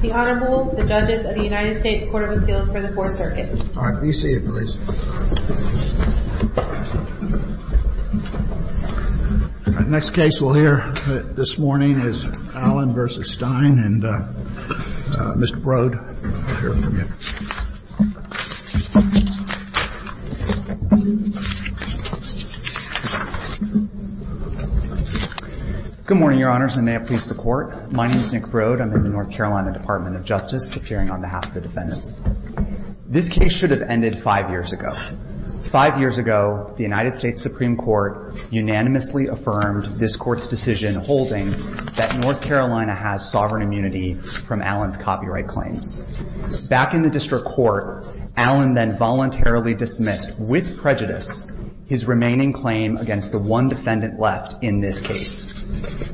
The Honorable, the Judges of the United States Court of Appeals for the Fourth Circuit. All right, be seated please. All right, next case we'll hear this morning is Allen v. Stein and Mr. Brode. Good morning, Your Honors, and may it please the Court. My name is Nick Brode. I'm with the North Carolina Department of Justice, appearing on behalf of the defendants. This case should have ended five years ago. Five years ago, the United States Supreme Court unanimously affirmed this Court's decision holding that North Carolina has sovereign immunity from Allen's copyright claims. Back in the district court, Allen then voluntarily dismissed, with prejudice, his remaining claim against the one defendant left in this case.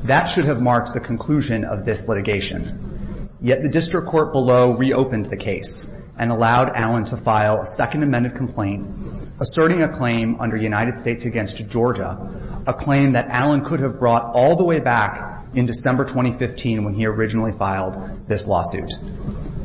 That should have marked the conclusion of this litigation. Yet the district court below reopened the case and allowed Allen to file a second amended complaint asserting a claim under United States against Georgia, a claim that Allen could have brought all the way back in December 2015 when he originally filed this lawsuit.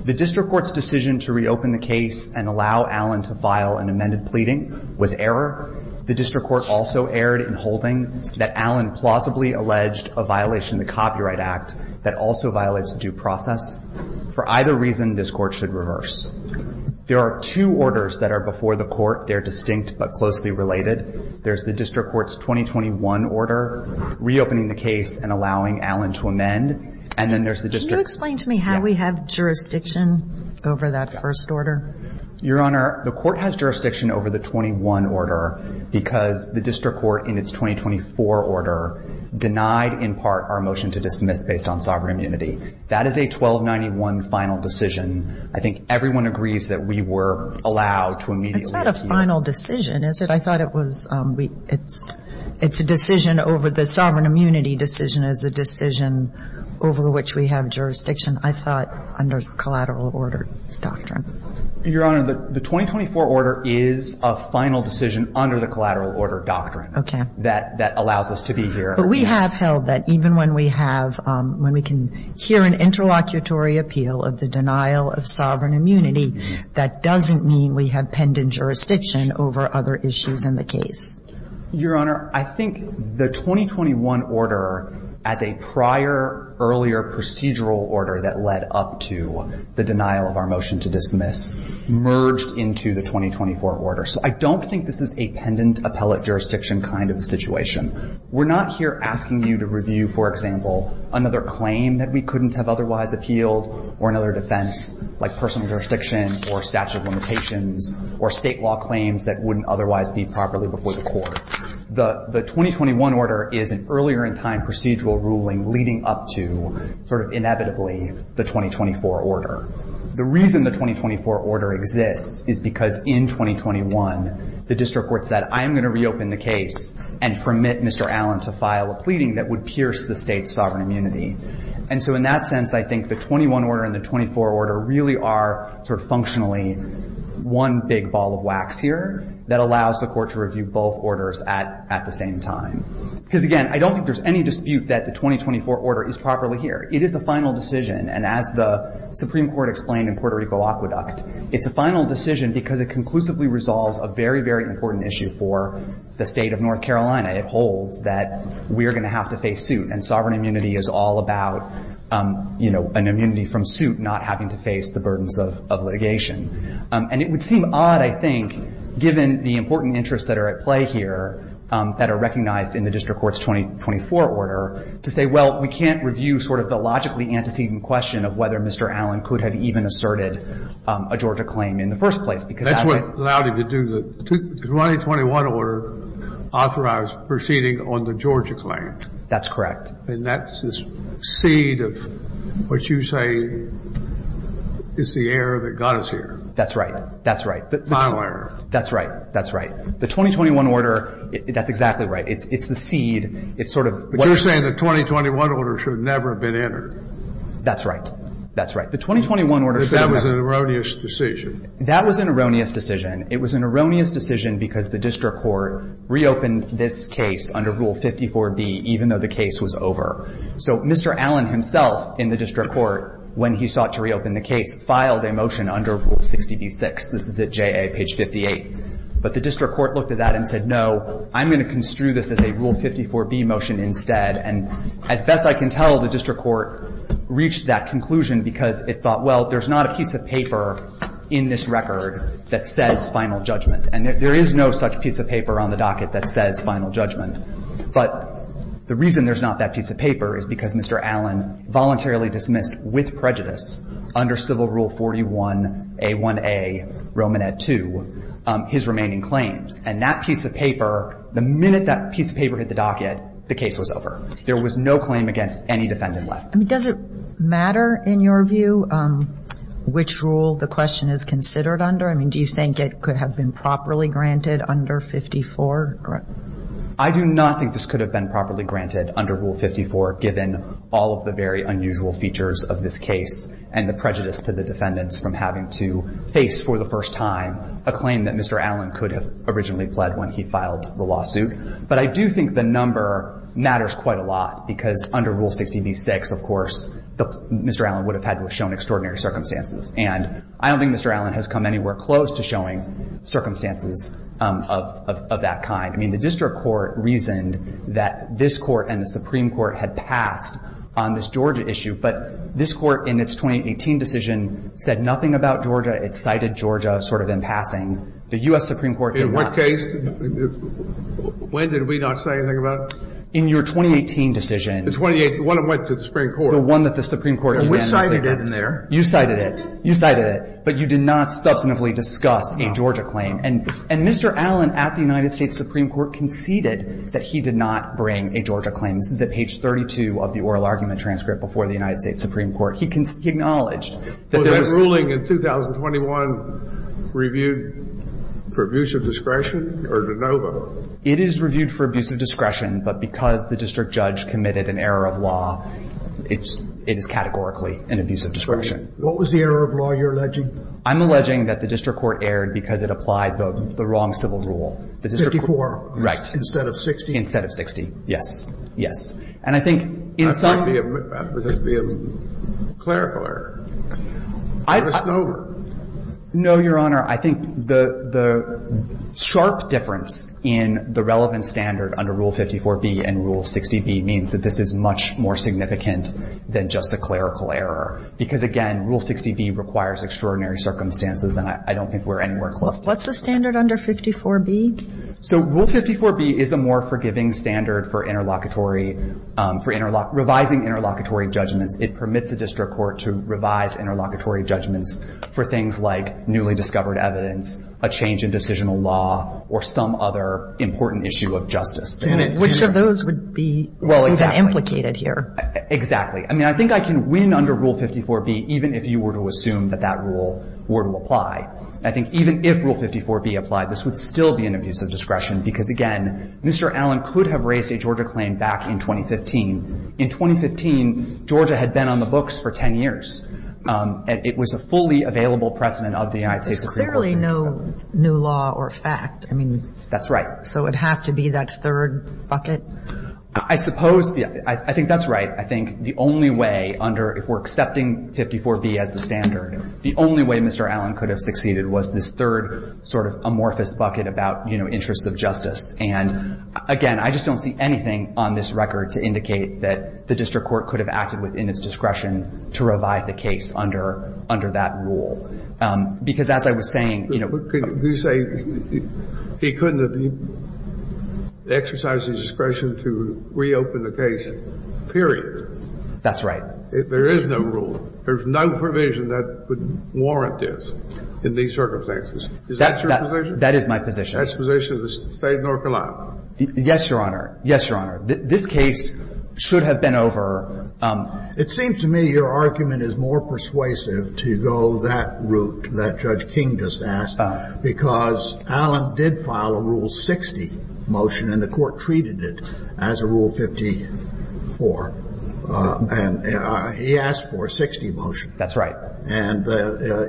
The district court's decision to reopen the case and allow Allen to file an amended pleading was error. The district court also erred in holding that Allen plausibly alleged a violation of the Copyright Act that also violates due process. For either reason, this Court should reverse. There are two orders that are before the Court. They're distinct but closely related. There's the district court's 2021 order reopening the case and allowing Allen to amend, and then there's the district's ---- Can you explain to me how we have jurisdiction over that first order? Your Honor, the court has jurisdiction over the 21 order because the district court in its 2024 order denied in part our motion to dismiss based on sovereign immunity. That is a 1291 final decision. I think everyone agrees that we were allowed to immediately appeal. It's not a final decision, is it? I thought it was we ---- it's a decision over the sovereign immunity decision is a decision over which we have jurisdiction, I thought, under the collateral order doctrine. Your Honor, the 2024 order is a final decision under the collateral order doctrine. Okay. That allows us to be here. But we have held that even when we have ---- when we can hear an interlocutory appeal of the denial of sovereign immunity, that doesn't mean we have pendant jurisdiction over other issues in the case. Your Honor, I think the 2021 order as a prior earlier procedural order that led up to the denial of our motion to dismiss merged into the 2024 order. So I don't think this is a pendant appellate jurisdiction kind of a situation. We're not here asking you to review, for example, another claim that we couldn't have otherwise appealed or another defense like personal jurisdiction or statute limitations or state law claims that wouldn't otherwise be properly before the court. The 2021 order is an earlier in time procedural ruling leading up to sort of inevitably the 2024 order. The reason the 2024 order exists is because in 2021, the district court said, I'm going to reopen the case and permit Mr. Allen to file a pleading that would pierce the State's sovereign immunity. And so in that sense, I think the 21 order and the 24 order really are sort of functionally one big ball of wax here that allows the court to review both orders at the same time. Because, again, I don't think there's any dispute that the 2024 order is properly here. It is a final decision. And as the Supreme Court explained in Puerto Rico Aqueduct, it's a final decision because it conclusively resolves a very, very important issue for the State of North Carolina. It holds that we are going to have to face suit. And sovereign immunity is all about an immunity from suit, not having to face the burdens of litigation. And it would seem odd, I think, given the important interests that are at play here that are recognized in the district court's 2024 order, to say, well, we can't review sort of the logically antecedent question of whether Mr. Allen could have even asserted a Georgia claim in the first place. That's what allowed him to do the 2021 order authorized proceeding on the Georgia claim. That's correct. And that's the seed of what you say is the error that got us here. That's right. That's right. The final error. That's right. That's right. The 2021 order, that's exactly right. It's the seed. But you're saying the 2021 order should have never been entered. That's right. That's right. The 2021 order should have never been entered. But that was an erroneous decision. That was an erroneous decision. It was an erroneous decision because the district court reopened this case under Rule 54b, even though the case was over. So Mr. Allen himself in the district court, when he sought to reopen the case, filed a motion under Rule 60b-6. This is at JA page 58. But the district court looked at that and said, no, I'm going to construe this as a Rule 54b motion instead. And as best I can tell, the district court reached that conclusion because it thought, well, there's not a piece of paper in this record that says final judgment. And there is no such piece of paper on the docket that says final judgment. But the reason there's not that piece of paper is because Mr. Allen voluntarily dismissed, with prejudice, under Civil Rule 41A1A Romanet II, his remaining claims. And that piece of paper, the minute that piece of paper hit the docket, the case was over. There was no claim against any defendant left. I mean, does it matter, in your view, which rule the question is considered under? I mean, do you think it could have been properly granted under 54? I do not think this could have been properly granted under Rule 54, given all of the very unusual features of this case and the prejudice to the defendants from having to face for the first time a claim that Mr. Allen could have originally pled when he filed the lawsuit. But I do think the number matters quite a lot, because under Rule 60b-6, of course, Mr. Allen would have had to have shown extraordinary circumstances. And I don't think Mr. Allen has come anywhere close to showing circumstances of that kind. I mean, the district court reasoned that this court and the Supreme Court had passed on this Georgia issue. But this Court, in its 2018 decision, said nothing about Georgia. It cited Georgia sort of in passing. The U.S. Supreme Court did not. In what case? When did we not say anything about it? In your 2018 decision. The one that went to the Supreme Court. The one that the Supreme Court unanimously did. We cited it in there. You cited it. You cited it. But you did not substantively discuss a Georgia claim. And Mr. Allen at the United States Supreme Court conceded that he did not bring a Georgia claim. This is at page 32 of the oral argument transcript before the United States Supreme Court. He acknowledged that there was no Georgia claim. Was that ruling in 2021 reviewed for abuse of discretion or de novo? It is reviewed for abuse of discretion. But because the district judge committed an error of law, it is categorically an abuse of discretion. What was the error of law you're alleging? I'm alleging that the district court erred because it applied the wrong civil rule. 54. Right. Instead of 60? Yes. Yes. And I think in some of the others, it would be a clerical error. No, Your Honor. I think the sharp difference in the relevant standard under Rule 54b and Rule 60b means that this is much more significant than just a clerical error. Because, again, Rule 60b requires extraordinary circumstances, and I don't think we're anywhere close to that. What's the standard under 54b? So Rule 54b is a more forgiving standard for interlocutory, for revising interlocutory judgments. It permits the district court to revise interlocutory judgments for things like newly discovered evidence, a change in decisional law, or some other important issue of justice. Which of those would be implicated here? Exactly. I mean, I think I can win under Rule 54b even if you were to assume that that rule were to apply. I think even if Rule 54b applied, this would still be an abuse of discretion because, again, Mr. Allen could have raised a Georgia claim back in 2015. In 2015, Georgia had been on the books for 10 years. It was a fully available precedent of the United States Supreme Court. There's clearly no new law or fact. I mean. That's right. So it would have to be that third bucket? I suppose. I think that's right. I think the only way under, if we're accepting 54b as the standard, the only way Mr. Allen could have proceeded was this third sort of amorphous bucket about, you know, interests of justice. And, again, I just don't see anything on this record to indicate that the district court could have acted within its discretion to revive the case under that rule. Because as I was saying, you know. Could you say he couldn't have exercised his discretion to reopen the case, period? That's right. There is no rule. There's no provision that would warrant this in these circumstances. Is that your position? That is my position. That's the position of the State of North Carolina. Yes, Your Honor. Yes, Your Honor. This case should have been over. It seems to me your argument is more persuasive to go that route that Judge King just asked, because Allen did file a Rule 60 motion, and the Court treated it as a Rule 54. And he asked for a 60 motion. That's right. And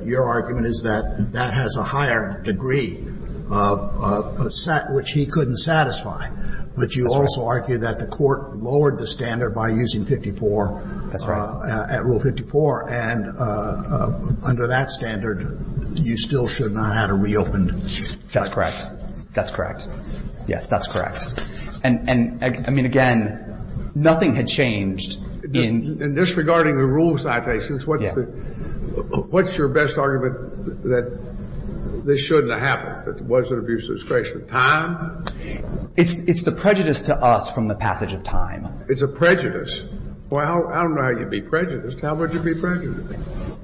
your argument is that that has a higher degree, which he couldn't satisfy. But you also argue that the Court lowered the standard by using 54. That's right. At Rule 54. And under that standard, you still should not have had a reopened case. That's correct. That's correct. Yes, that's correct. And, I mean, again, nothing had changed. In disregarding the rule citations, what's your best argument that this shouldn't have happened, that there was an abuse of discretion? Time? It's the prejudice to us from the passage of time. It's a prejudice. Well, I don't know how you'd be prejudiced. How would you be prejudiced?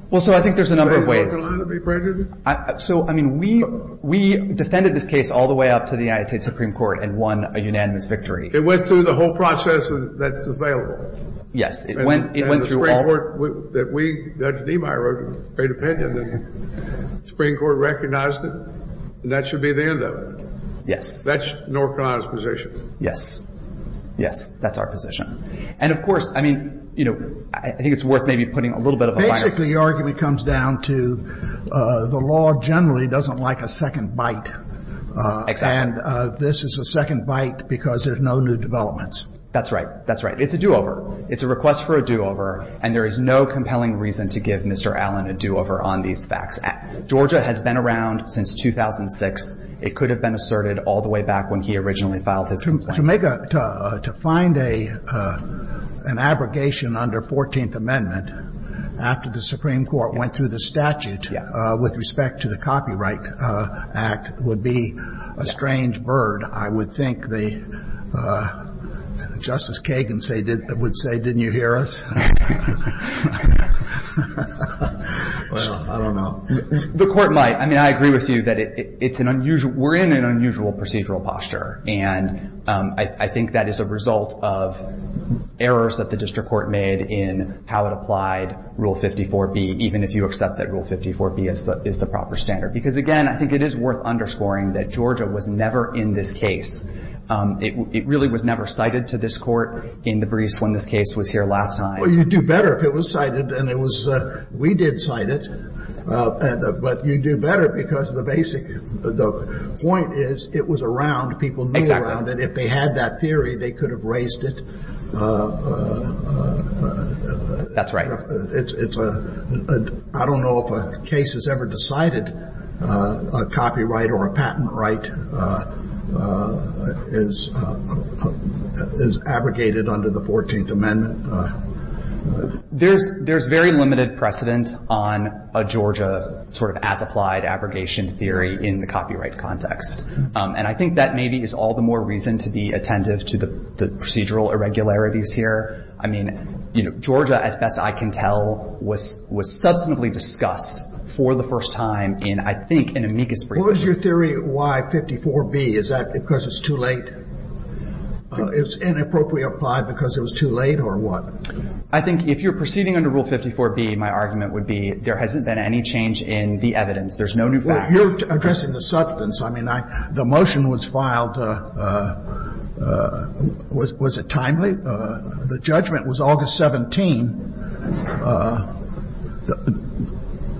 Well, so I think there's a number of ways. Is the State of North Carolina to be prejudiced? So, I mean, we defended this case all the way up to the United States Supreme Court and won a unanimous victory. It went through the whole process that's available. Yes. It went through all of it. And the Supreme Court, that we, Judge Demeyer, paid opinion, and the Supreme Court recognized it, and that should be the end of it. Yes. That's North Carolina's position. Yes. Yes. That's our position. And, of course, I mean, you know, I think it's worth maybe putting a little bit of a higher Basically, the argument comes down to the law generally doesn't like a second bite. Exactly. And this is a second bite because there's no new developments. That's right. That's right. It's a do-over. It's a request for a do-over, and there is no compelling reason to give Mr. Allen a do-over on these facts. Georgia has been around since 2006. It could have been asserted all the way back when he originally filed his complaint. To make a, to find a, an abrogation under 14th Amendment after the Supreme Court went through the statute with respect to the Copyright Act would be a strange bird, I would think. Justice Kagan would say, didn't you hear us? Well, I don't know. The Court might. I mean, I agree with you that it's an unusual, we're in an unusual procedural posture, and I think that is a result of errors that the District Court made in how it applied Rule 54B, even if you accept that Rule 54B is the proper standard. Because, again, I think it is worth underscoring that Georgia was never in this case. It really was never cited to this Court in the briefs when this case was here last time. Well, you'd do better if it was cited, and it was, we did cite it, but you'd do better because the basic, the point is it was around, people knew around it. If they had that theory, they could have raised it. That's right. It's a, I don't know if a case has ever decided a copyright or a patent right is, is abrogated under the 14th Amendment. There's, there's very limited precedent on a Georgia sort of as-applied abrogation theory in the copyright context. And I think that maybe is all the more reason to be attentive to the procedural irregularities here. I mean, you know, Georgia, as best I can tell, was, was substantively discussed for the first time in, I think, an amicus brief. What was your theory of why 54B? Is that because it's too late? It's inappropriately applied because it was too late or what? I think if you're proceeding under Rule 54B, my argument would be there hasn't been any change in the evidence. There's no new facts. Well, you're addressing the substance. I mean, I, the motion was filed, was, was it timely? The judgment was August 17.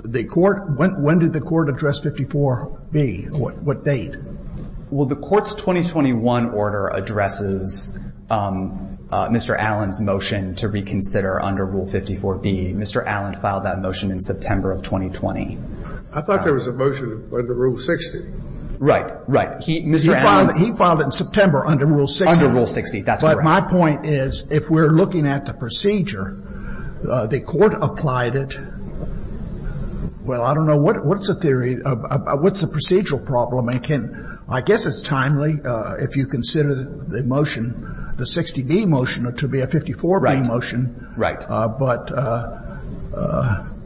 The Court, when, when did the Court address 54B? What, what date? Well, the Court's 2021 order addresses Mr. Allen's motion to reconsider under Rule 54B. Mr. Allen filed that motion in September of 2020. I thought there was a motion under Rule 60. Right, right. He, Mr. Allen's. He filed, he filed it in September under Rule 60. Under Rule 60, that's correct. But my point is, if we're looking at the procedure, the Court applied it. Well, I don't know. What's the theory? What's the procedural problem? I can't, I guess it's timely if you consider the motion, the 60B motion to be a 54B motion. Right, right. But,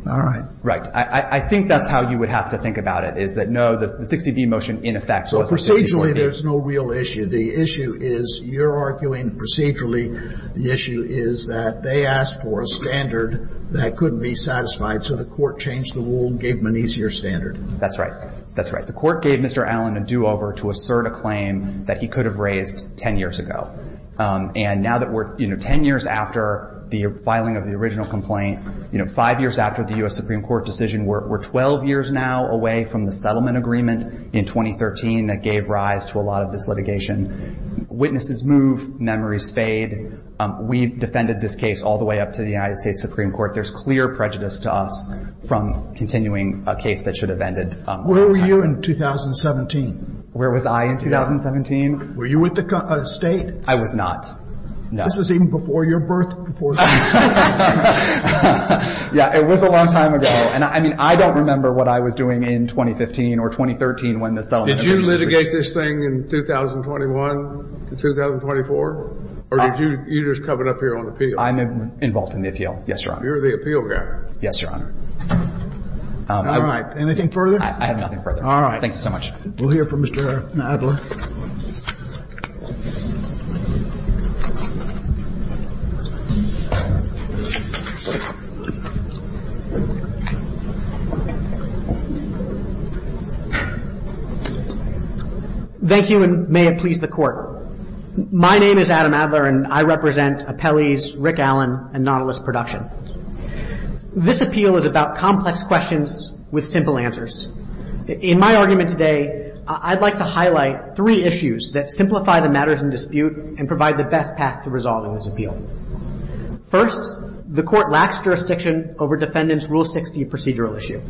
all right. Right. I, I think that's how you would have to think about it, is that, no, the 60B motion in effect was 54B. So procedurally, there's no real issue. The issue is, you're arguing procedurally, the issue is that they asked for a standard that couldn't be satisfied, so the Court changed the rule and gave them an easier standard. That's right. That's right. The Court gave Mr. Allen a do-over to assert a claim that he could have raised 10 years ago. And now that we're, you know, 10 years after the filing of the original complaint, you know, five years after the U.S. Supreme Court decision, we're 12 years now away from the settlement agreement in 2013 that gave rise to a lot of this litigation. Witnesses move, memories fade. We defended this case all the way up to the United States Supreme Court. There's clear prejudice to us from continuing a case that should have ended. Where were you in 2017? Where was I in 2017? Were you at the State? I was not. No. This was even before your birth, before the State. Yeah, it was a long time ago. And, I mean, I don't remember what I was doing in 2015 or 2013 when the settlement agreement was issued. Did you litigate this thing in 2021 to 2024? Or did you just come up here on appeal? I'm involved in the appeal. Yes, Your Honor. You're the appeal guy. Yes, Your Honor. All right. Anything further? I have nothing further. All right. Thank you so much. We'll hear from Mr. Adler. Thank you, and may it please the Court. My name is Adam Adler, and I represent Appellee's Rick Allen and Nautilus Production. This appeal is about complex questions with simple answers. In my argument today, I'd like to highlight three issues that simplify the matters in dispute and provide the best path to resolving this appeal. First, the Court lacks jurisdiction over Defendant's Rule 60 procedural issue.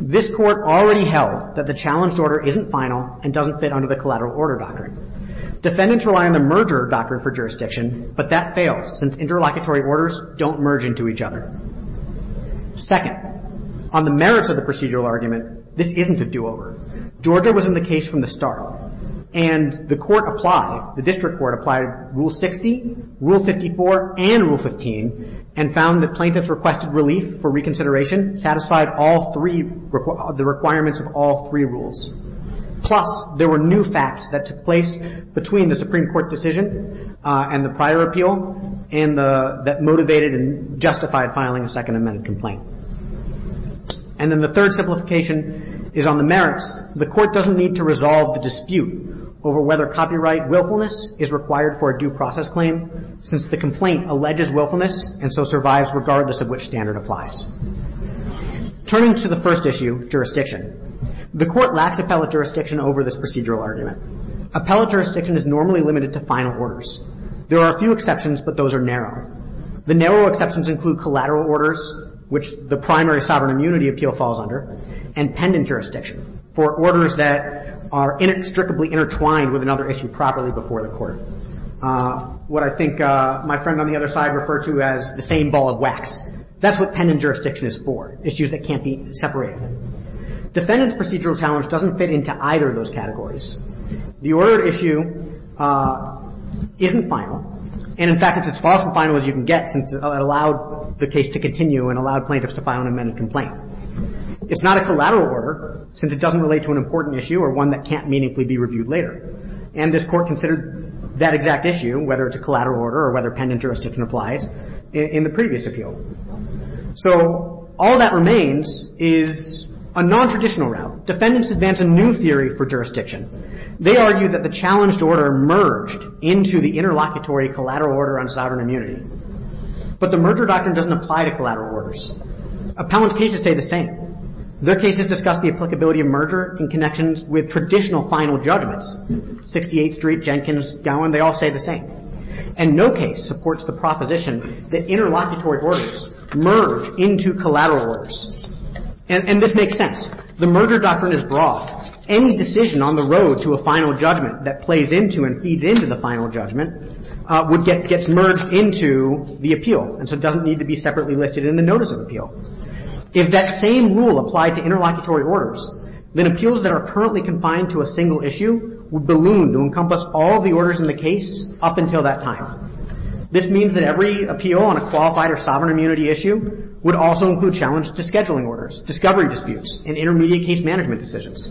This Court already held that the challenged order isn't final and doesn't fit under the collateral order doctrine. Defendants rely on the merger doctrine for jurisdiction, but that fails since interlocutory orders don't merge into each other. Second, on the merits of the procedural argument, this isn't a do-over. Georgia was in the case from the start, and the Court applied, the District Court applied Rule 60, Rule 54, and Rule 15, and found that plaintiffs' requested relief for reconsideration satisfied all three, the requirements of all three rules. Plus, there were new facts that took place between the Supreme Court decision and the prior appeal that motivated and justified filing a Second Amendment complaint. And then the third simplification is on the merits. The Court doesn't need to resolve the dispute over whether copyright willfulness is required for a due process claim, since the complaint alleges willfulness and so survives regardless of which standard applies. Turning to the first issue, jurisdiction, the Court lacks appellate jurisdiction over this procedural argument. Appellate jurisdiction is normally limited to final orders. There are a few exceptions, but those are narrow. The narrow exceptions include collateral orders, which the primary sovereign immunity appeal falls under, and pendant jurisdiction, for orders that are inextricably intertwined with another issue properly before the Court. What I think my friend on the other side referred to as the same ball of wax. That's what pendant jurisdiction is for, issues that can't be separated. Defendant's procedural challenge doesn't fit into either of those categories. The ordered issue isn't final. And in fact, it's as far from final as you can get, since it allowed the case to continue and allowed plaintiffs to file an amended complaint. It's not a collateral order, since it doesn't relate to an important issue or one that can't meaningfully be reviewed later. And this Court considered that exact issue, whether it's a collateral order or whether So all that remains is a nontraditional route. Defendants advance a new theory for jurisdiction. They argue that the challenged order merged into the interlocutory collateral order on sovereign immunity. But the merger doctrine doesn't apply to collateral orders. Appellant's cases say the same. Their cases discuss the applicability of merger in connections with traditional final judgments. 68th Street, Jenkins, Gowan, they all say the same. And no case supports the proposition that interlocutory orders merge into collateral orders. And this makes sense. The merger doctrine is broad. Any decision on the road to a final judgment that plays into and feeds into the final judgment gets merged into the appeal and so doesn't need to be separately listed in the notice of appeal. If that same rule applied to interlocutory orders, then appeals that are currently confined to a single issue would balloon to encompass all the orders in the case up until that time. This means that every appeal on a qualified or sovereign immunity issue would also include challenge to scheduling orders, discovery disputes, and intermediate case management decisions.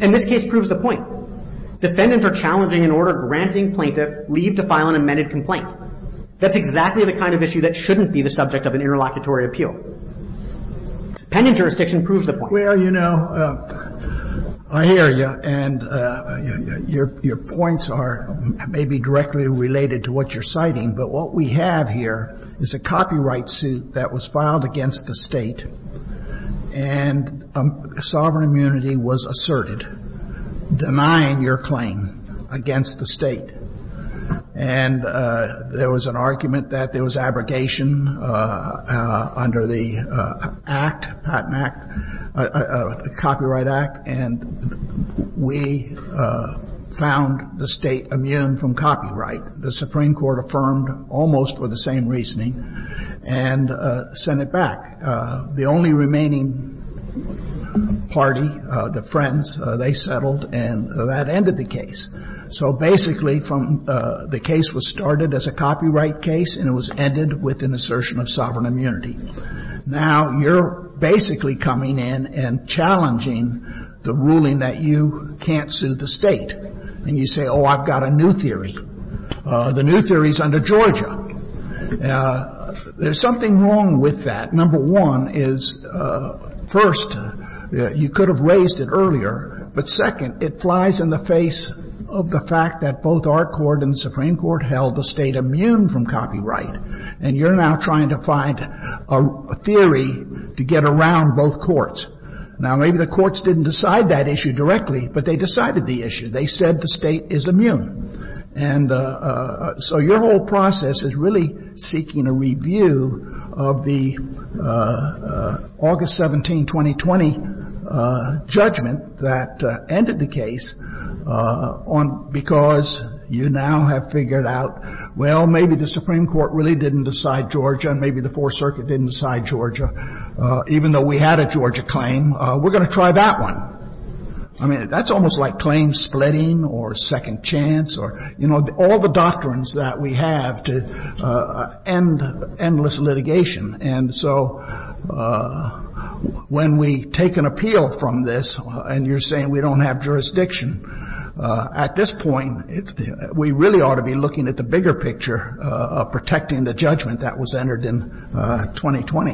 And this case proves the point. Defendants are challenging an order granting plaintiff leave to file an amended complaint. That's exactly the kind of issue that shouldn't be the subject of an interlocutory appeal. Pending jurisdiction proves the point. Well, you know, I hear you. And your points are maybe directly related to what you're citing. But what we have here is a copyright suit that was filed against the State, and sovereign immunity was asserted, denying your claim against the State. And there was an argument that there was abrogation under the Act, Patent Act. Copyright Act. And we found the State immune from copyright. The Supreme Court affirmed almost for the same reasoning and sent it back. The only remaining party, the Friends, they settled, and that ended the case. So basically, the case was started as a copyright case, and it was ended with an assertion of sovereign immunity. Now, you're basically coming in and challenging the ruling that you can't sue the State. And you say, oh, I've got a new theory. The new theory is under Georgia. There's something wrong with that. Number one is, first, you could have raised it earlier. But second, it flies in the face of the fact that both our court and the Supreme Court held the State immune from copyright. And you're now trying to find a theory to get around both courts. Now, maybe the courts didn't decide that issue directly, but they decided the issue. They said the State is immune. And so your whole process is really seeking a review of the August 17, 2020, judgment that ended the case on — because you now have figured out, well, maybe the Supreme Court really didn't decide Georgia, and maybe the Fourth Circuit didn't decide Georgia, even though we had a Georgia claim. We're going to try that one. I mean, that's almost like claim splitting or second chance or, you know, all the doctrines that we have to end endless litigation. And so when we take an appeal from this, and you're saying we don't have jurisdiction, at this point, we really ought to be looking at the bigger picture of protecting the judgment that was entered in 2020,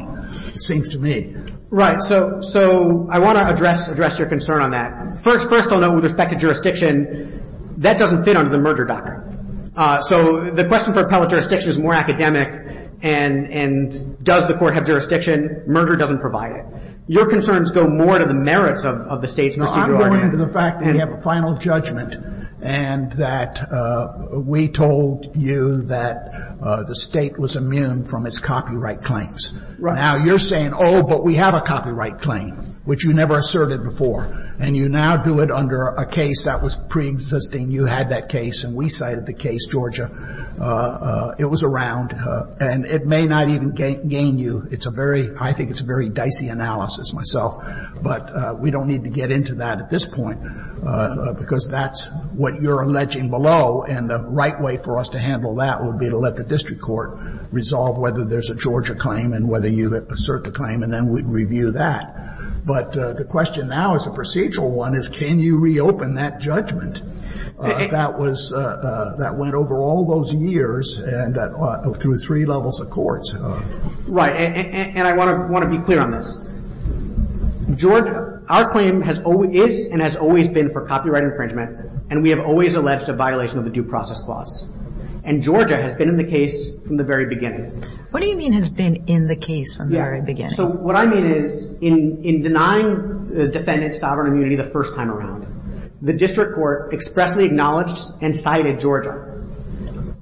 it seems to me. Right. So I want to address your concern on that. First, I'll note with respect to jurisdiction, that doesn't fit under the merger doctrine. So the question for appellate jurisdiction is more academic. And does the court have jurisdiction? Merger doesn't provide it. Your concerns go more to the merits of the State's procedural argument. We're going to the fact that we have a final judgment and that we told you that the State was immune from its copyright claims. Right. Now, you're saying, oh, but we have a copyright claim, which you never asserted before, and you now do it under a case that was preexisting. You had that case, and we cited the case, Georgia. It was around, and it may not even gain you. It's a very — I think it's a very dicey analysis myself, but we don't need to get into that at this point, because that's what you're alleging below. And the right way for us to handle that would be to let the district court resolve whether there's a Georgia claim and whether you assert the claim, and then we'd review that. But the question now as a procedural one is, can you reopen that judgment? That was — that went over all those years and through three levels of courts. Right. And I want to be clear on this. Georgia — our claim has — is and has always been for copyright infringement, and we have always alleged a violation of the Due Process Clause. And Georgia has been in the case from the very beginning. What do you mean has been in the case from the very beginning? Yeah. So what I mean is, in denying the defendant sovereign immunity the first time around, the district court expressly acknowledged and cited Georgia,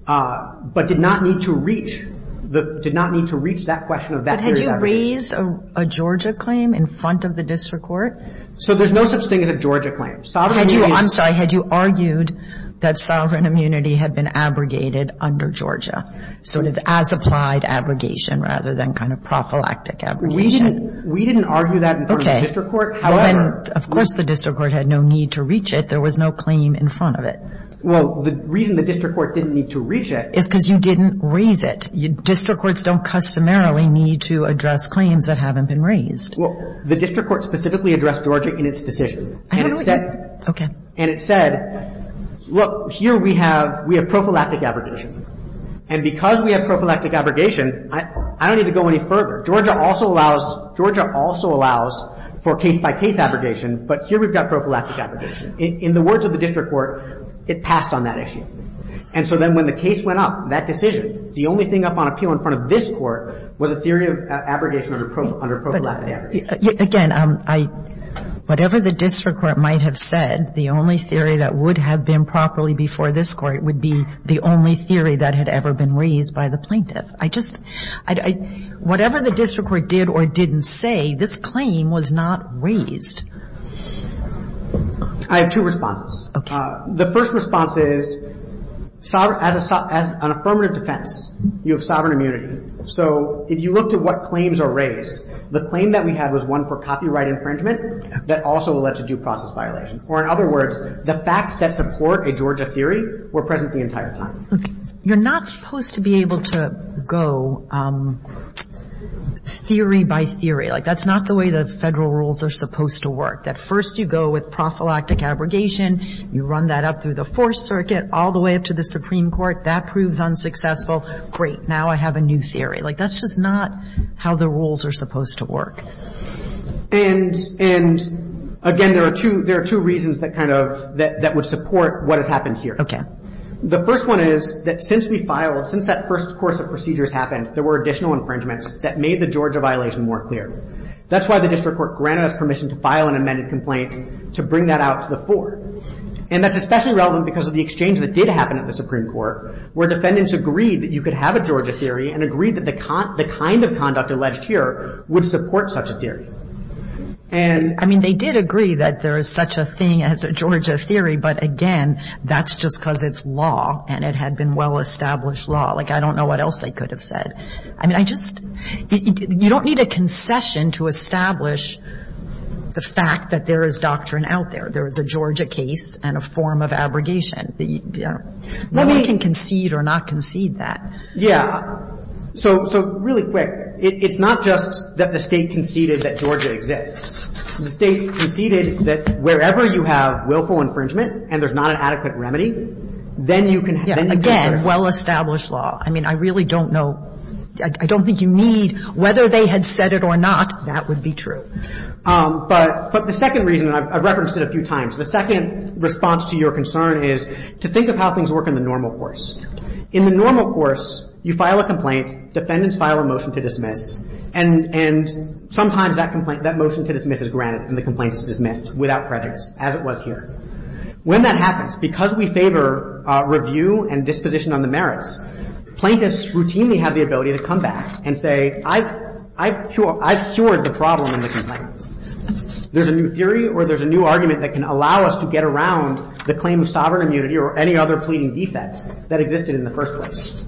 but did not need to reach — did not need to reach that question of that period of time. But had you raised a Georgia claim in front of the district court? So there's no such thing as a Georgia claim. Sovereign immunity — Had you — I'm sorry. Had you argued that sovereign immunity had been abrogated under Georgia, sort of as applied abrogation rather than kind of prophylactic abrogation? We didn't — we didn't argue that in front of the district court. However — Well, then, of course the district court had no need to reach it. There was no claim in front of it. Well, the reason the district court didn't need to reach it — Is because you didn't raise it. District courts don't customarily need to address claims that haven't been raised. Well, the district court specifically addressed Georgia in its decision. And it said — Okay. And it said, look, here we have — we have prophylactic abrogation. And because we have prophylactic abrogation, I don't need to go any further. Georgia also allows — Georgia also allows for case-by-case abrogation, but here we've got prophylactic abrogation. In the words of the district court, it passed on that issue. And so then when the case went up, that decision, the only thing up on appeal in front of this Court was a theory of abrogation under prophylactic abrogation. Again, I — whatever the district court might have said, the only theory that would have been properly before this Court would be the only theory that had ever been raised by the plaintiff. I just — whatever the district court did or didn't say, this claim was not raised. I have two responses. Okay. The first response is sovereign — as an affirmative defense, you have sovereign immunity. So if you looked at what claims are raised, the claim that we had was one for copyright infringement that also led to due process violation. Or in other words, the facts that support a Georgia theory were present the entire time. Okay. You're not supposed to be able to go theory by theory. Like, that's not the way the federal rules are supposed to work. That first you go with prophylactic abrogation, you run that up through the Fourth Circuit, all the way up to the Supreme Court. That proves unsuccessful. Great. Now I have a new theory. Like, that's just not how the rules are supposed to work. And — and, again, there are two — there are two reasons that kind of — that would support what has happened here. Okay. The first one is that since we filed — since that first course of procedures happened, there were additional infringements that made the Georgia violation more clear. That's why the district court granted us permission to file an amended complaint to bring that out to the court. And that's especially relevant because of the exchange that did happen at the Supreme Court, where defendants agreed that you could have a Georgia theory and agreed that the kind of conduct alleged here would support such a theory. And — I mean, they did agree that there is such a thing as a Georgia theory, but, again, that's just because it's law, and it had been well-established law. Like, I don't know what else they could have said. I mean, I just — you don't need a concession to establish the fact that there is doctrine out there. There is a Georgia case and a form of abrogation. Nobody can concede or not concede that. Yeah. So — so, really quick, it's not just that the State conceded that Georgia exists. The State conceded that wherever you have willful infringement and there's not an adequate remedy, then you can have — Yeah. Again, well-established law. I mean, I really don't know — I don't think you need — whether they had said it or not, that would be true. But — but the second reason, and I've referenced it a few times, the second response to your concern is to think of how things work in the normal course. In the normal course, you file a complaint, defendants file a motion to dismiss, and — and sometimes that complaint — that motion to dismiss is granted and the complaint is dismissed without prejudice, as it was here. When that happens, because we favor review and disposition on the merits, plaintiffs routinely have the ability to come back and say, I've — I've cured — I've cured the problem in the complaint. There's a new theory or there's a new argument that can allow us to get around the claim of sovereign immunity or any other pleading defect that existed in the first place.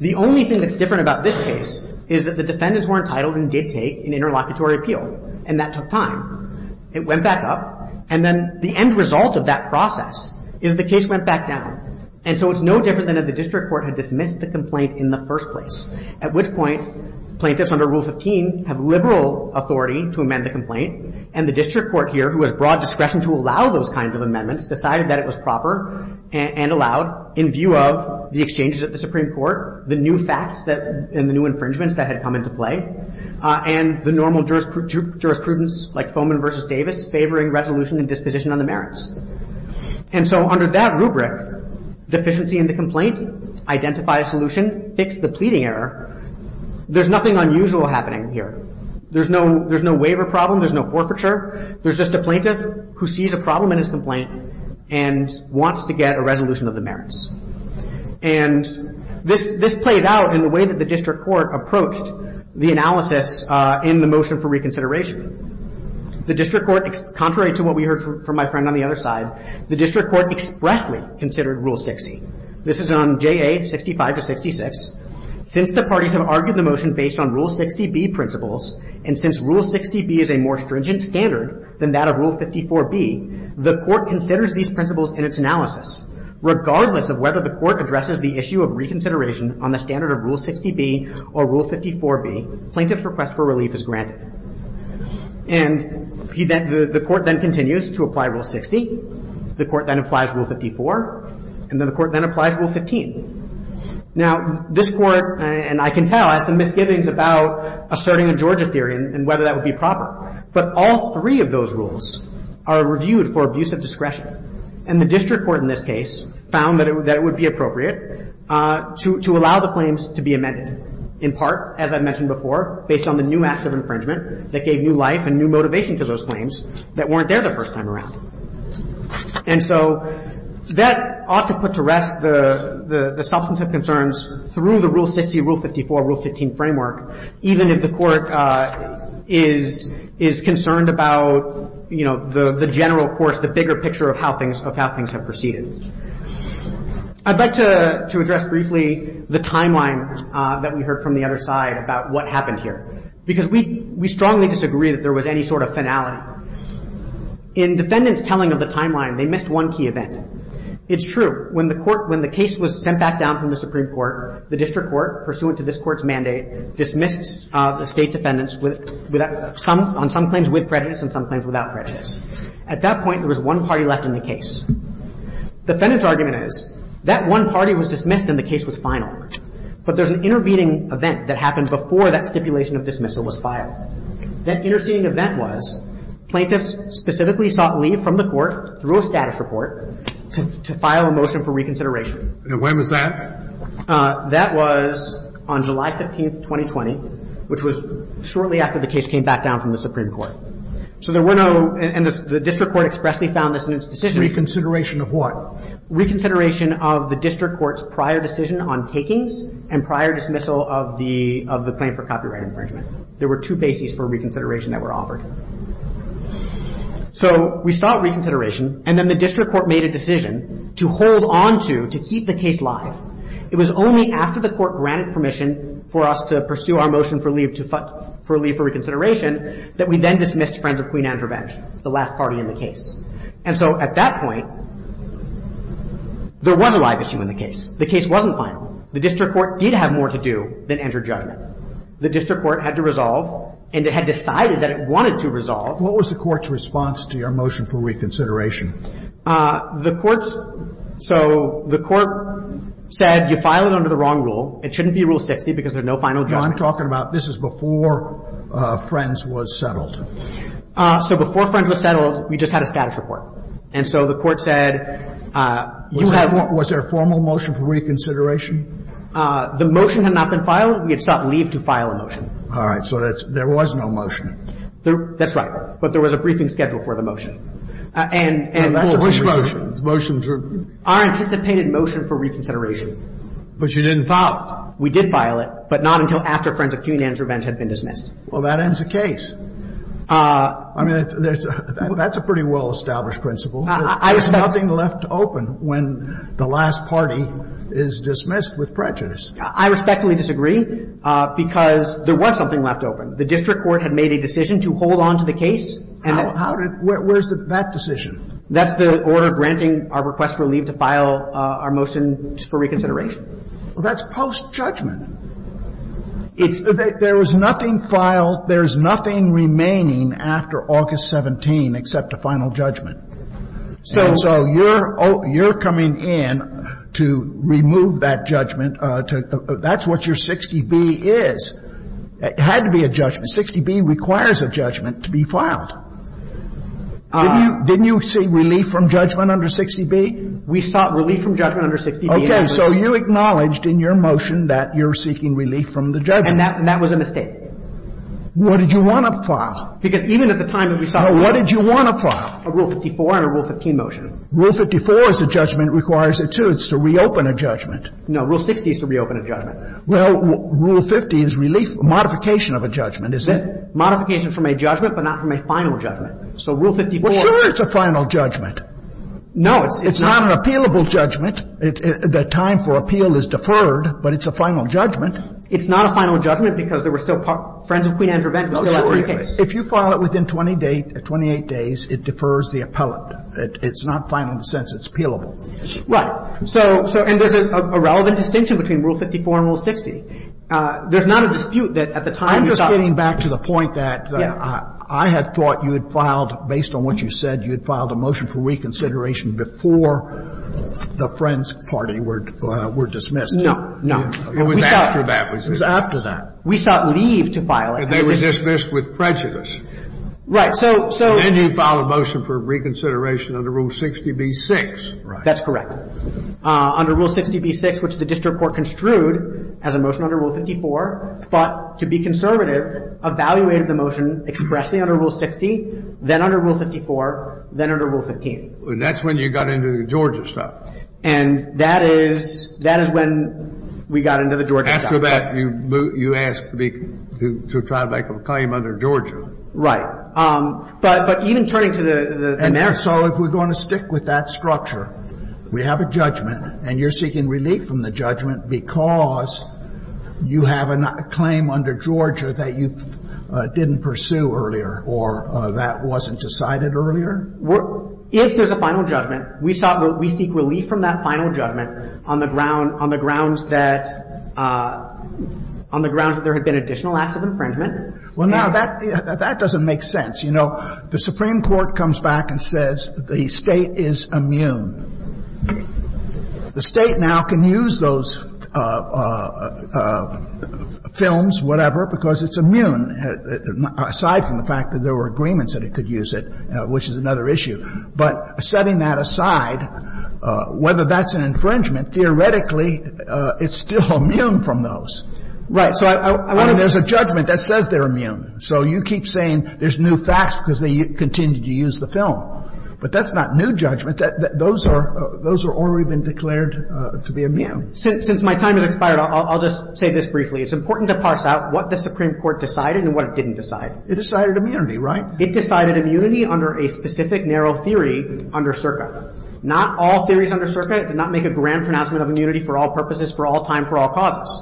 The only thing that's different about this case is that the defendants were entitled and did take an interlocutory appeal, and that took time. It went back up. And then the end result of that process is the case went back down. And so it's no different than if the district court had dismissed the complaint in the first place, at which point plaintiffs under Rule 15 have liberal authority to amend the complaint. And the district court here, who has broad discretion to allow those kinds of amendments, decided that it was proper and allowed in view of the exchanges at the Supreme Court, the new facts that — and the new infringements that had come into play, and the normal jurisprudence, like Foman versus Davis, favoring resolution and disposition on the merits. And so under that rubric, deficiency in the complaint, identify a solution, fix the pleading error, there's nothing unusual happening here. There's no — there's no waiver problem. There's no forfeiture. There's just a plaintiff who sees a problem in his complaint and wants to get a resolution of the merits. And this — this plays out in the way that the district court approached the analysis in the motion for reconsideration. The district court, contrary to what we heard from my friend on the other side, the district court expressly considered Rule 60. This is on JA 65 to 66. Since the parties have argued the motion based on Rule 60B principles, and since Rule 60B is a more stringent standard than that of Rule 54B, the court considers these principles in its analysis. Regardless of whether the court addresses the issue of reconsideration on the standard of Rule 60B or Rule 54B, plaintiff's request for relief is granted. And the court then continues to apply Rule 60. The court then applies Rule 54. And then the court then applies Rule 15. Now, this court, and I can tell, has some misgivings about asserting a Georgia theory and whether that would be proper. But all three of those rules are reviewed for abuse of discretion. And the district court, in this case, found that it would be appropriate to allow the claims to be amended, in part, as I mentioned before, based on the new acts of infringement that gave new life and new motivation to those claims that weren't there the first time around. And so that ought to put to rest the substantive concerns through the Rule 60, Rule 54, Rule 15 framework, even if the court is concerned about, you know, the general course, the bigger picture of how things have proceeded. I'd like to address briefly the timeline that we heard from the other side about what happened here. Because we strongly disagree that there was any sort of finality. In defendants' telling of the timeline, they missed one key event. It's true. When the case was sent back down from the Supreme Court, the district court, pursuant to this Court's mandate, dismissed the State defendants on some claims with prejudice and some claims without prejudice. At that point, there was one party left in the case. Defendant's argument is that one party was dismissed and the case was final. But there's an intervening event that happened before that stipulation of dismissal was filed. That interceding event was plaintiffs specifically sought leave from the court through a status report to file a motion for reconsideration. And when was that? That was on July 15, 2020, which was shortly after the case came back down from the Supreme Court. So there were no, and the district court expressly found this in its decision. Reconsideration of what? Reconsideration of the district court's prior decision on takings and prior dismissal of the claim for copyright infringement. There were two bases for reconsideration that were offered. So we sought reconsideration, and then the district court made a decision to hold on to, to keep the case live. It was only after the court granted permission for us to pursue our motion for leave for reconsideration that we then dismissed Friends of Queen Andrew Bench, the last party in the case. And so at that point, there was a live issue in the case. The case wasn't final. The district court did have more to do than enter judgment. The district court had to resolve, and it had decided that it wanted to resolve. What was the court's response to your motion for reconsideration? The court's, so the court said you file it under the wrong rule. It shouldn't be Rule 60 because there's no final judgment. I'm talking about this is before Friends was settled. So before Friends was settled, we just had a status report. And so the court said you have to. Was there a formal motion for reconsideration? The motion had not been filed. We had sought leave to file a motion. All right. So there was no motion. That's right. But there was a briefing schedule for the motion. And, and, well, that's a motion. Which motion? The motion to. Our anticipated motion for reconsideration. But you didn't file it. We did file it, but not until after Friends of Cunanan's revenge had been dismissed. Well, that ends the case. I mean, that's a pretty well-established principle. I respectfully. There's nothing left open when the last party is dismissed with prejudice. I respectfully disagree, because there was something left open. The district court had made a decision to hold on to the case. How did, where's that decision? That's the order granting our request for leave to file our motion for reconsideration. Well, that's post-judgment. It's. There was nothing filed. There's nothing remaining after August 17 except a final judgment. So. And so you're, you're coming in to remove that judgment to, that's what your 60B is. It had to be a judgment. 60B requires a judgment to be filed. Didn't you, didn't you seek relief from judgment under 60B? We sought relief from judgment under 60B. Okay. So you acknowledged in your motion that you're seeking relief from the judgment. And that, and that was a mistake. What did you want to file? Because even at the time that we sought. What did you want to file? A Rule 54 and a Rule 15 motion. Rule 54 is a judgment, requires it to, it's to reopen a judgment. No. Rule 60 is to reopen a judgment. Well, Rule 50 is relief, modification of a judgment, isn't it? Modification from a judgment, but not from a final judgment. So Rule 54. Well, sure it's a final judgment. No, it's. It's not an appealable judgment. The time for appeal is deferred, but it's a final judgment. It's not a final judgment because there were still friends of Queen Anne's Revenge who were still out for the case. If you file it within 28 days, it defers the appellate. It's not final in the sense it's appealable. Right. So, and there's a relevant distinction between Rule 54 and Rule 60. There's not a dispute that at the time you sought. I'm just getting back to the point that I had thought you had filed, based on what you said, you had filed a motion for reconsideration before the Friends Party were dismissed. No. No. It was after that. It was after that. We sought leave to file it. And they were dismissed with prejudice. Right. So. Then you filed a motion for reconsideration under Rule 60b-6. That's correct. Under Rule 60b-6, which the district court construed as a motion under Rule 54. But to be conservative, evaluated the motion expressly under Rule 60, then under Rule 54, then under Rule 15. And that's when you got into the Georgia stuff. And that is when we got into the Georgia stuff. After that, you asked me to try to make a claim under Georgia. Right. But even turning to the merits. So if we're going to stick with that structure, we have a judgment, and you're seeking relief from the judgment because you have a claim under Georgia that you didn't pursue earlier or that wasn't decided earlier? If there's a final judgment, we seek relief from that final judgment on the grounds that there had been additional acts of infringement. Well, now, that doesn't make sense. You know, the Supreme Court comes back and says the State is immune. The State now can use those films, whatever, because it's immune, aside from the fact that there were agreements that it could use it, which is another issue. But setting that aside, whether that's an infringement, theoretically, it's still immune from those. Right. So I wonder if there's a judgment that says they're immune. So you keep saying there's new facts because they continue to use the film. But that's not new judgment. Those are already been declared to be immune. Since my time has expired, I'll just say this briefly. It's important to parse out what the Supreme Court decided and what it didn't decide. It decided immunity, right? It decided immunity under a specific narrow theory under CERCA. Not all theories under CERCA did not make a grand pronouncement of immunity for all purposes, for all time, for all causes.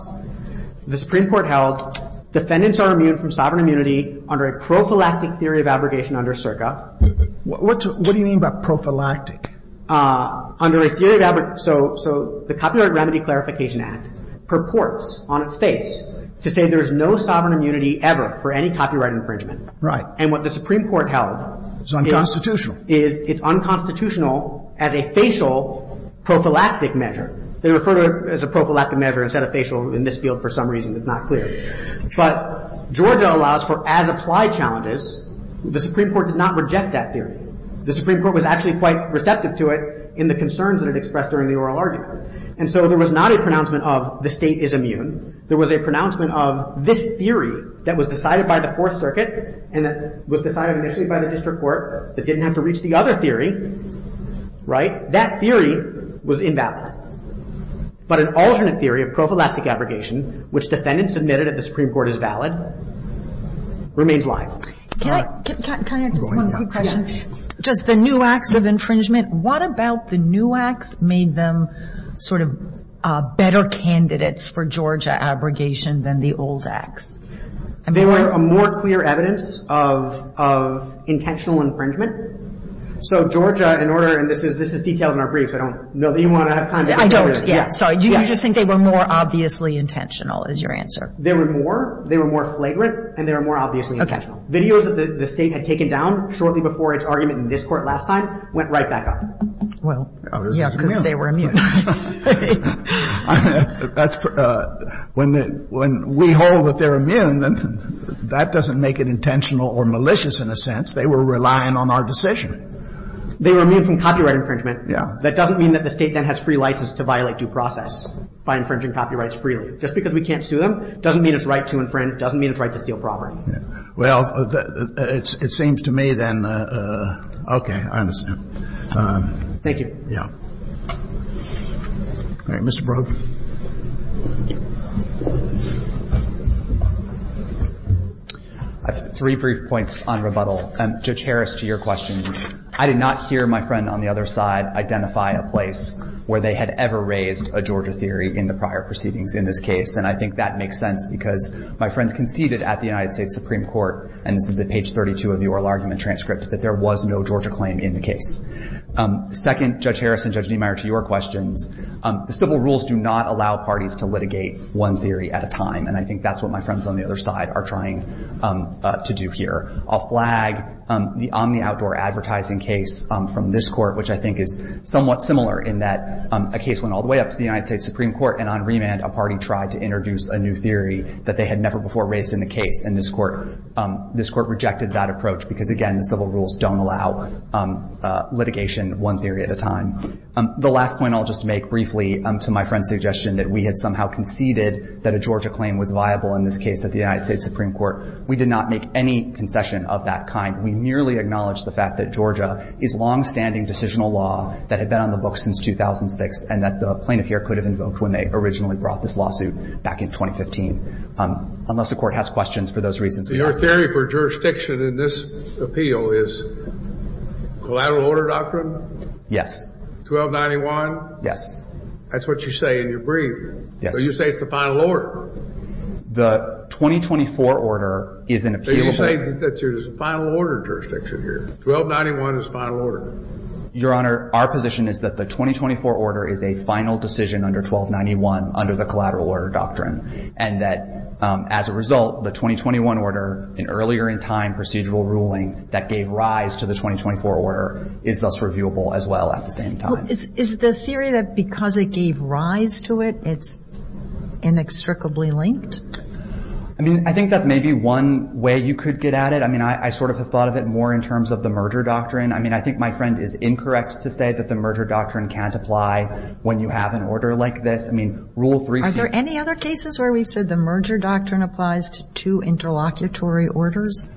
The Supreme Court held defendants are immune from sovereign immunity under a prophylactic theory of abrogation under CERCA. What do you mean by prophylactic? Under a theory of abrogation. So the Copyright Remedy Clarification Act purports on its face to say there is no sovereign immunity ever for any copyright infringement. Right. And what the Supreme Court held is unconstitutional as a facial prophylactic measure. They refer to it as a prophylactic measure instead of facial in this field for some reason. It's not clear. But Georgia allows for as applied challenges. The Supreme Court did not reject that theory. The Supreme Court was actually quite receptive to it in the concerns that it expressed during the oral argument. And so there was not a pronouncement of the state is immune. There was a pronouncement of this theory that was decided by the Fourth Circuit and that was decided initially by the district court that didn't have to reach the other theory. Right. So that theory was invalid. But an alternate theory of prophylactic abrogation, which defendants admitted at the Supreme Court is valid, remains live. Can I ask just one quick question? Just the new acts of infringement. What about the new acts made them sort of better candidates for Georgia abrogation than the old acts? They were a more clear evidence of intentional infringement. So Georgia, in order, and this is detailed in our briefs. I don't know that you want to have time to answer this. I don't. Yeah. Sorry. Do you just think they were more obviously intentional is your answer? They were more. They were more flagrant. And they were more obviously intentional. Okay. Videos that the State had taken down shortly before its argument in this Court last time went right back up. Well, yeah, because they were immune. When we hold that they're immune, that doesn't make it intentional or malicious in a sense. They were relying on our decision. They were immune from copyright infringement. Yeah. That doesn't mean that the State then has free license to violate due process by infringing copyrights freely. Just because we can't sue them doesn't mean it's right to infringe, doesn't mean it's right to steal property. Well, it seems to me then, okay, I understand. Thank you. Yeah. All right. Mr. Brogue. I have three brief points on rebuttal. Judge Harris, to your question, I did not hear my friend on the other side identify a place where they had ever raised a Georgia theory in the prior proceedings in this case. And I think that makes sense because my friends conceded at the United States Supreme Court, and this is at page 32 of the oral argument transcript, that there was no Georgia claim in the case. Second, Judge Harris and Judge Niemeyer, to your questions, the civil rules do not allow parties to litigate one theory at a time. And I think that's what my friends on the other side are trying to do here. I'll flag the Omni Outdoor Advertising case from this court, which I think is somewhat similar in that a case went all the way up to the United States Supreme Court, and on remand, a party tried to introduce a new theory that they had never before raised in the case. And this court rejected that approach because, again, the civil rules don't allow litigation one theory at a time. The last point I'll just make briefly to my friend's suggestion that we had somehow conceded that a Georgia claim was viable in this case at the United States Supreme Court. We did not make any concession of that kind. We merely acknowledged the fact that Georgia is longstanding decisional law that had been on the books since 2006 and that the plaintiff here could have invoked when they originally brought this lawsuit back in 2015. Unless the Court has questions, for those reasons, we ask no questions. Your theory for jurisdiction in this appeal is collateral order doctrine? Yes. 1291? Yes. That's what you say in your brief. Yes. So you say it's the final order. The 2024 order is an appealable order. So you say that there's a final order jurisdiction here. 1291 is the final order. Your Honor, our position is that the 2024 order is a final decision under 1291 under the collateral order doctrine, and that as a result, the 2021 order, an earlier in time procedural ruling that gave rise to the 2024 order, is thus reviewable as well at the same time. Is the theory that because it gave rise to it, it's inextricably linked? I mean, I think that's maybe one way you could get at it. I mean, I sort of have thought of it more in terms of the merger doctrine. I mean, I think my friend is incorrect to say that the merger doctrine can't apply when you have an order like this. I mean, Rule 3C. Are there any other cases where we've said the merger doctrine applies to two interlocutory orders?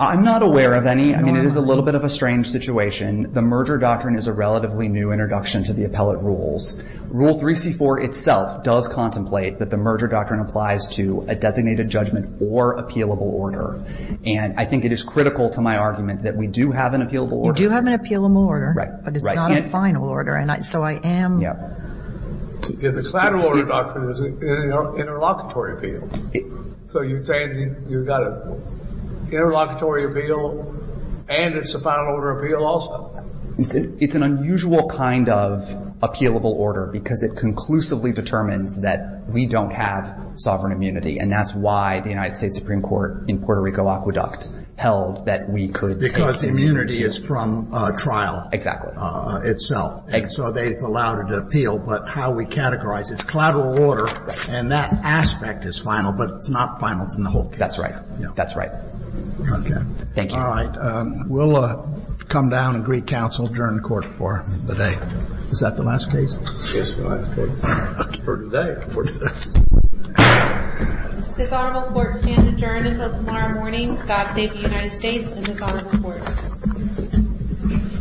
I'm not aware of any. I mean, it is a little bit of a strange situation. The merger doctrine is a relatively new introduction to the appellate rules. Rule 3C.4 itself does contemplate that the merger doctrine applies to a designated judgment or appealable order. And I think it is critical to my argument that we do have an appealable order. You do have an appealable order. Right. But it's not a final order. And so I am. Yeah. The collateral order doctrine is an interlocutory appeal. So you're saying you've got an interlocutory appeal and it's a final order appeal also? It's an unusual kind of appealable order because it conclusively determines that we don't have sovereign immunity. And that's why the United States Supreme Court in Puerto Rico Aqueduct held that we could take. Because immunity is from trial. Exactly. Itself. And so they've allowed it to appeal. But how we categorize. It's collateral order. And that aspect is final. But it's not final from the whole case. That's right. That's right. Okay. Thank you. All right. We'll come down and greet counsel, adjourn the court for the day. Is that the last case? Yes, Your Honor. For today. For today. This Honorable Court stands adjourned until tomorrow morning. God save the United States and this Honorable Court.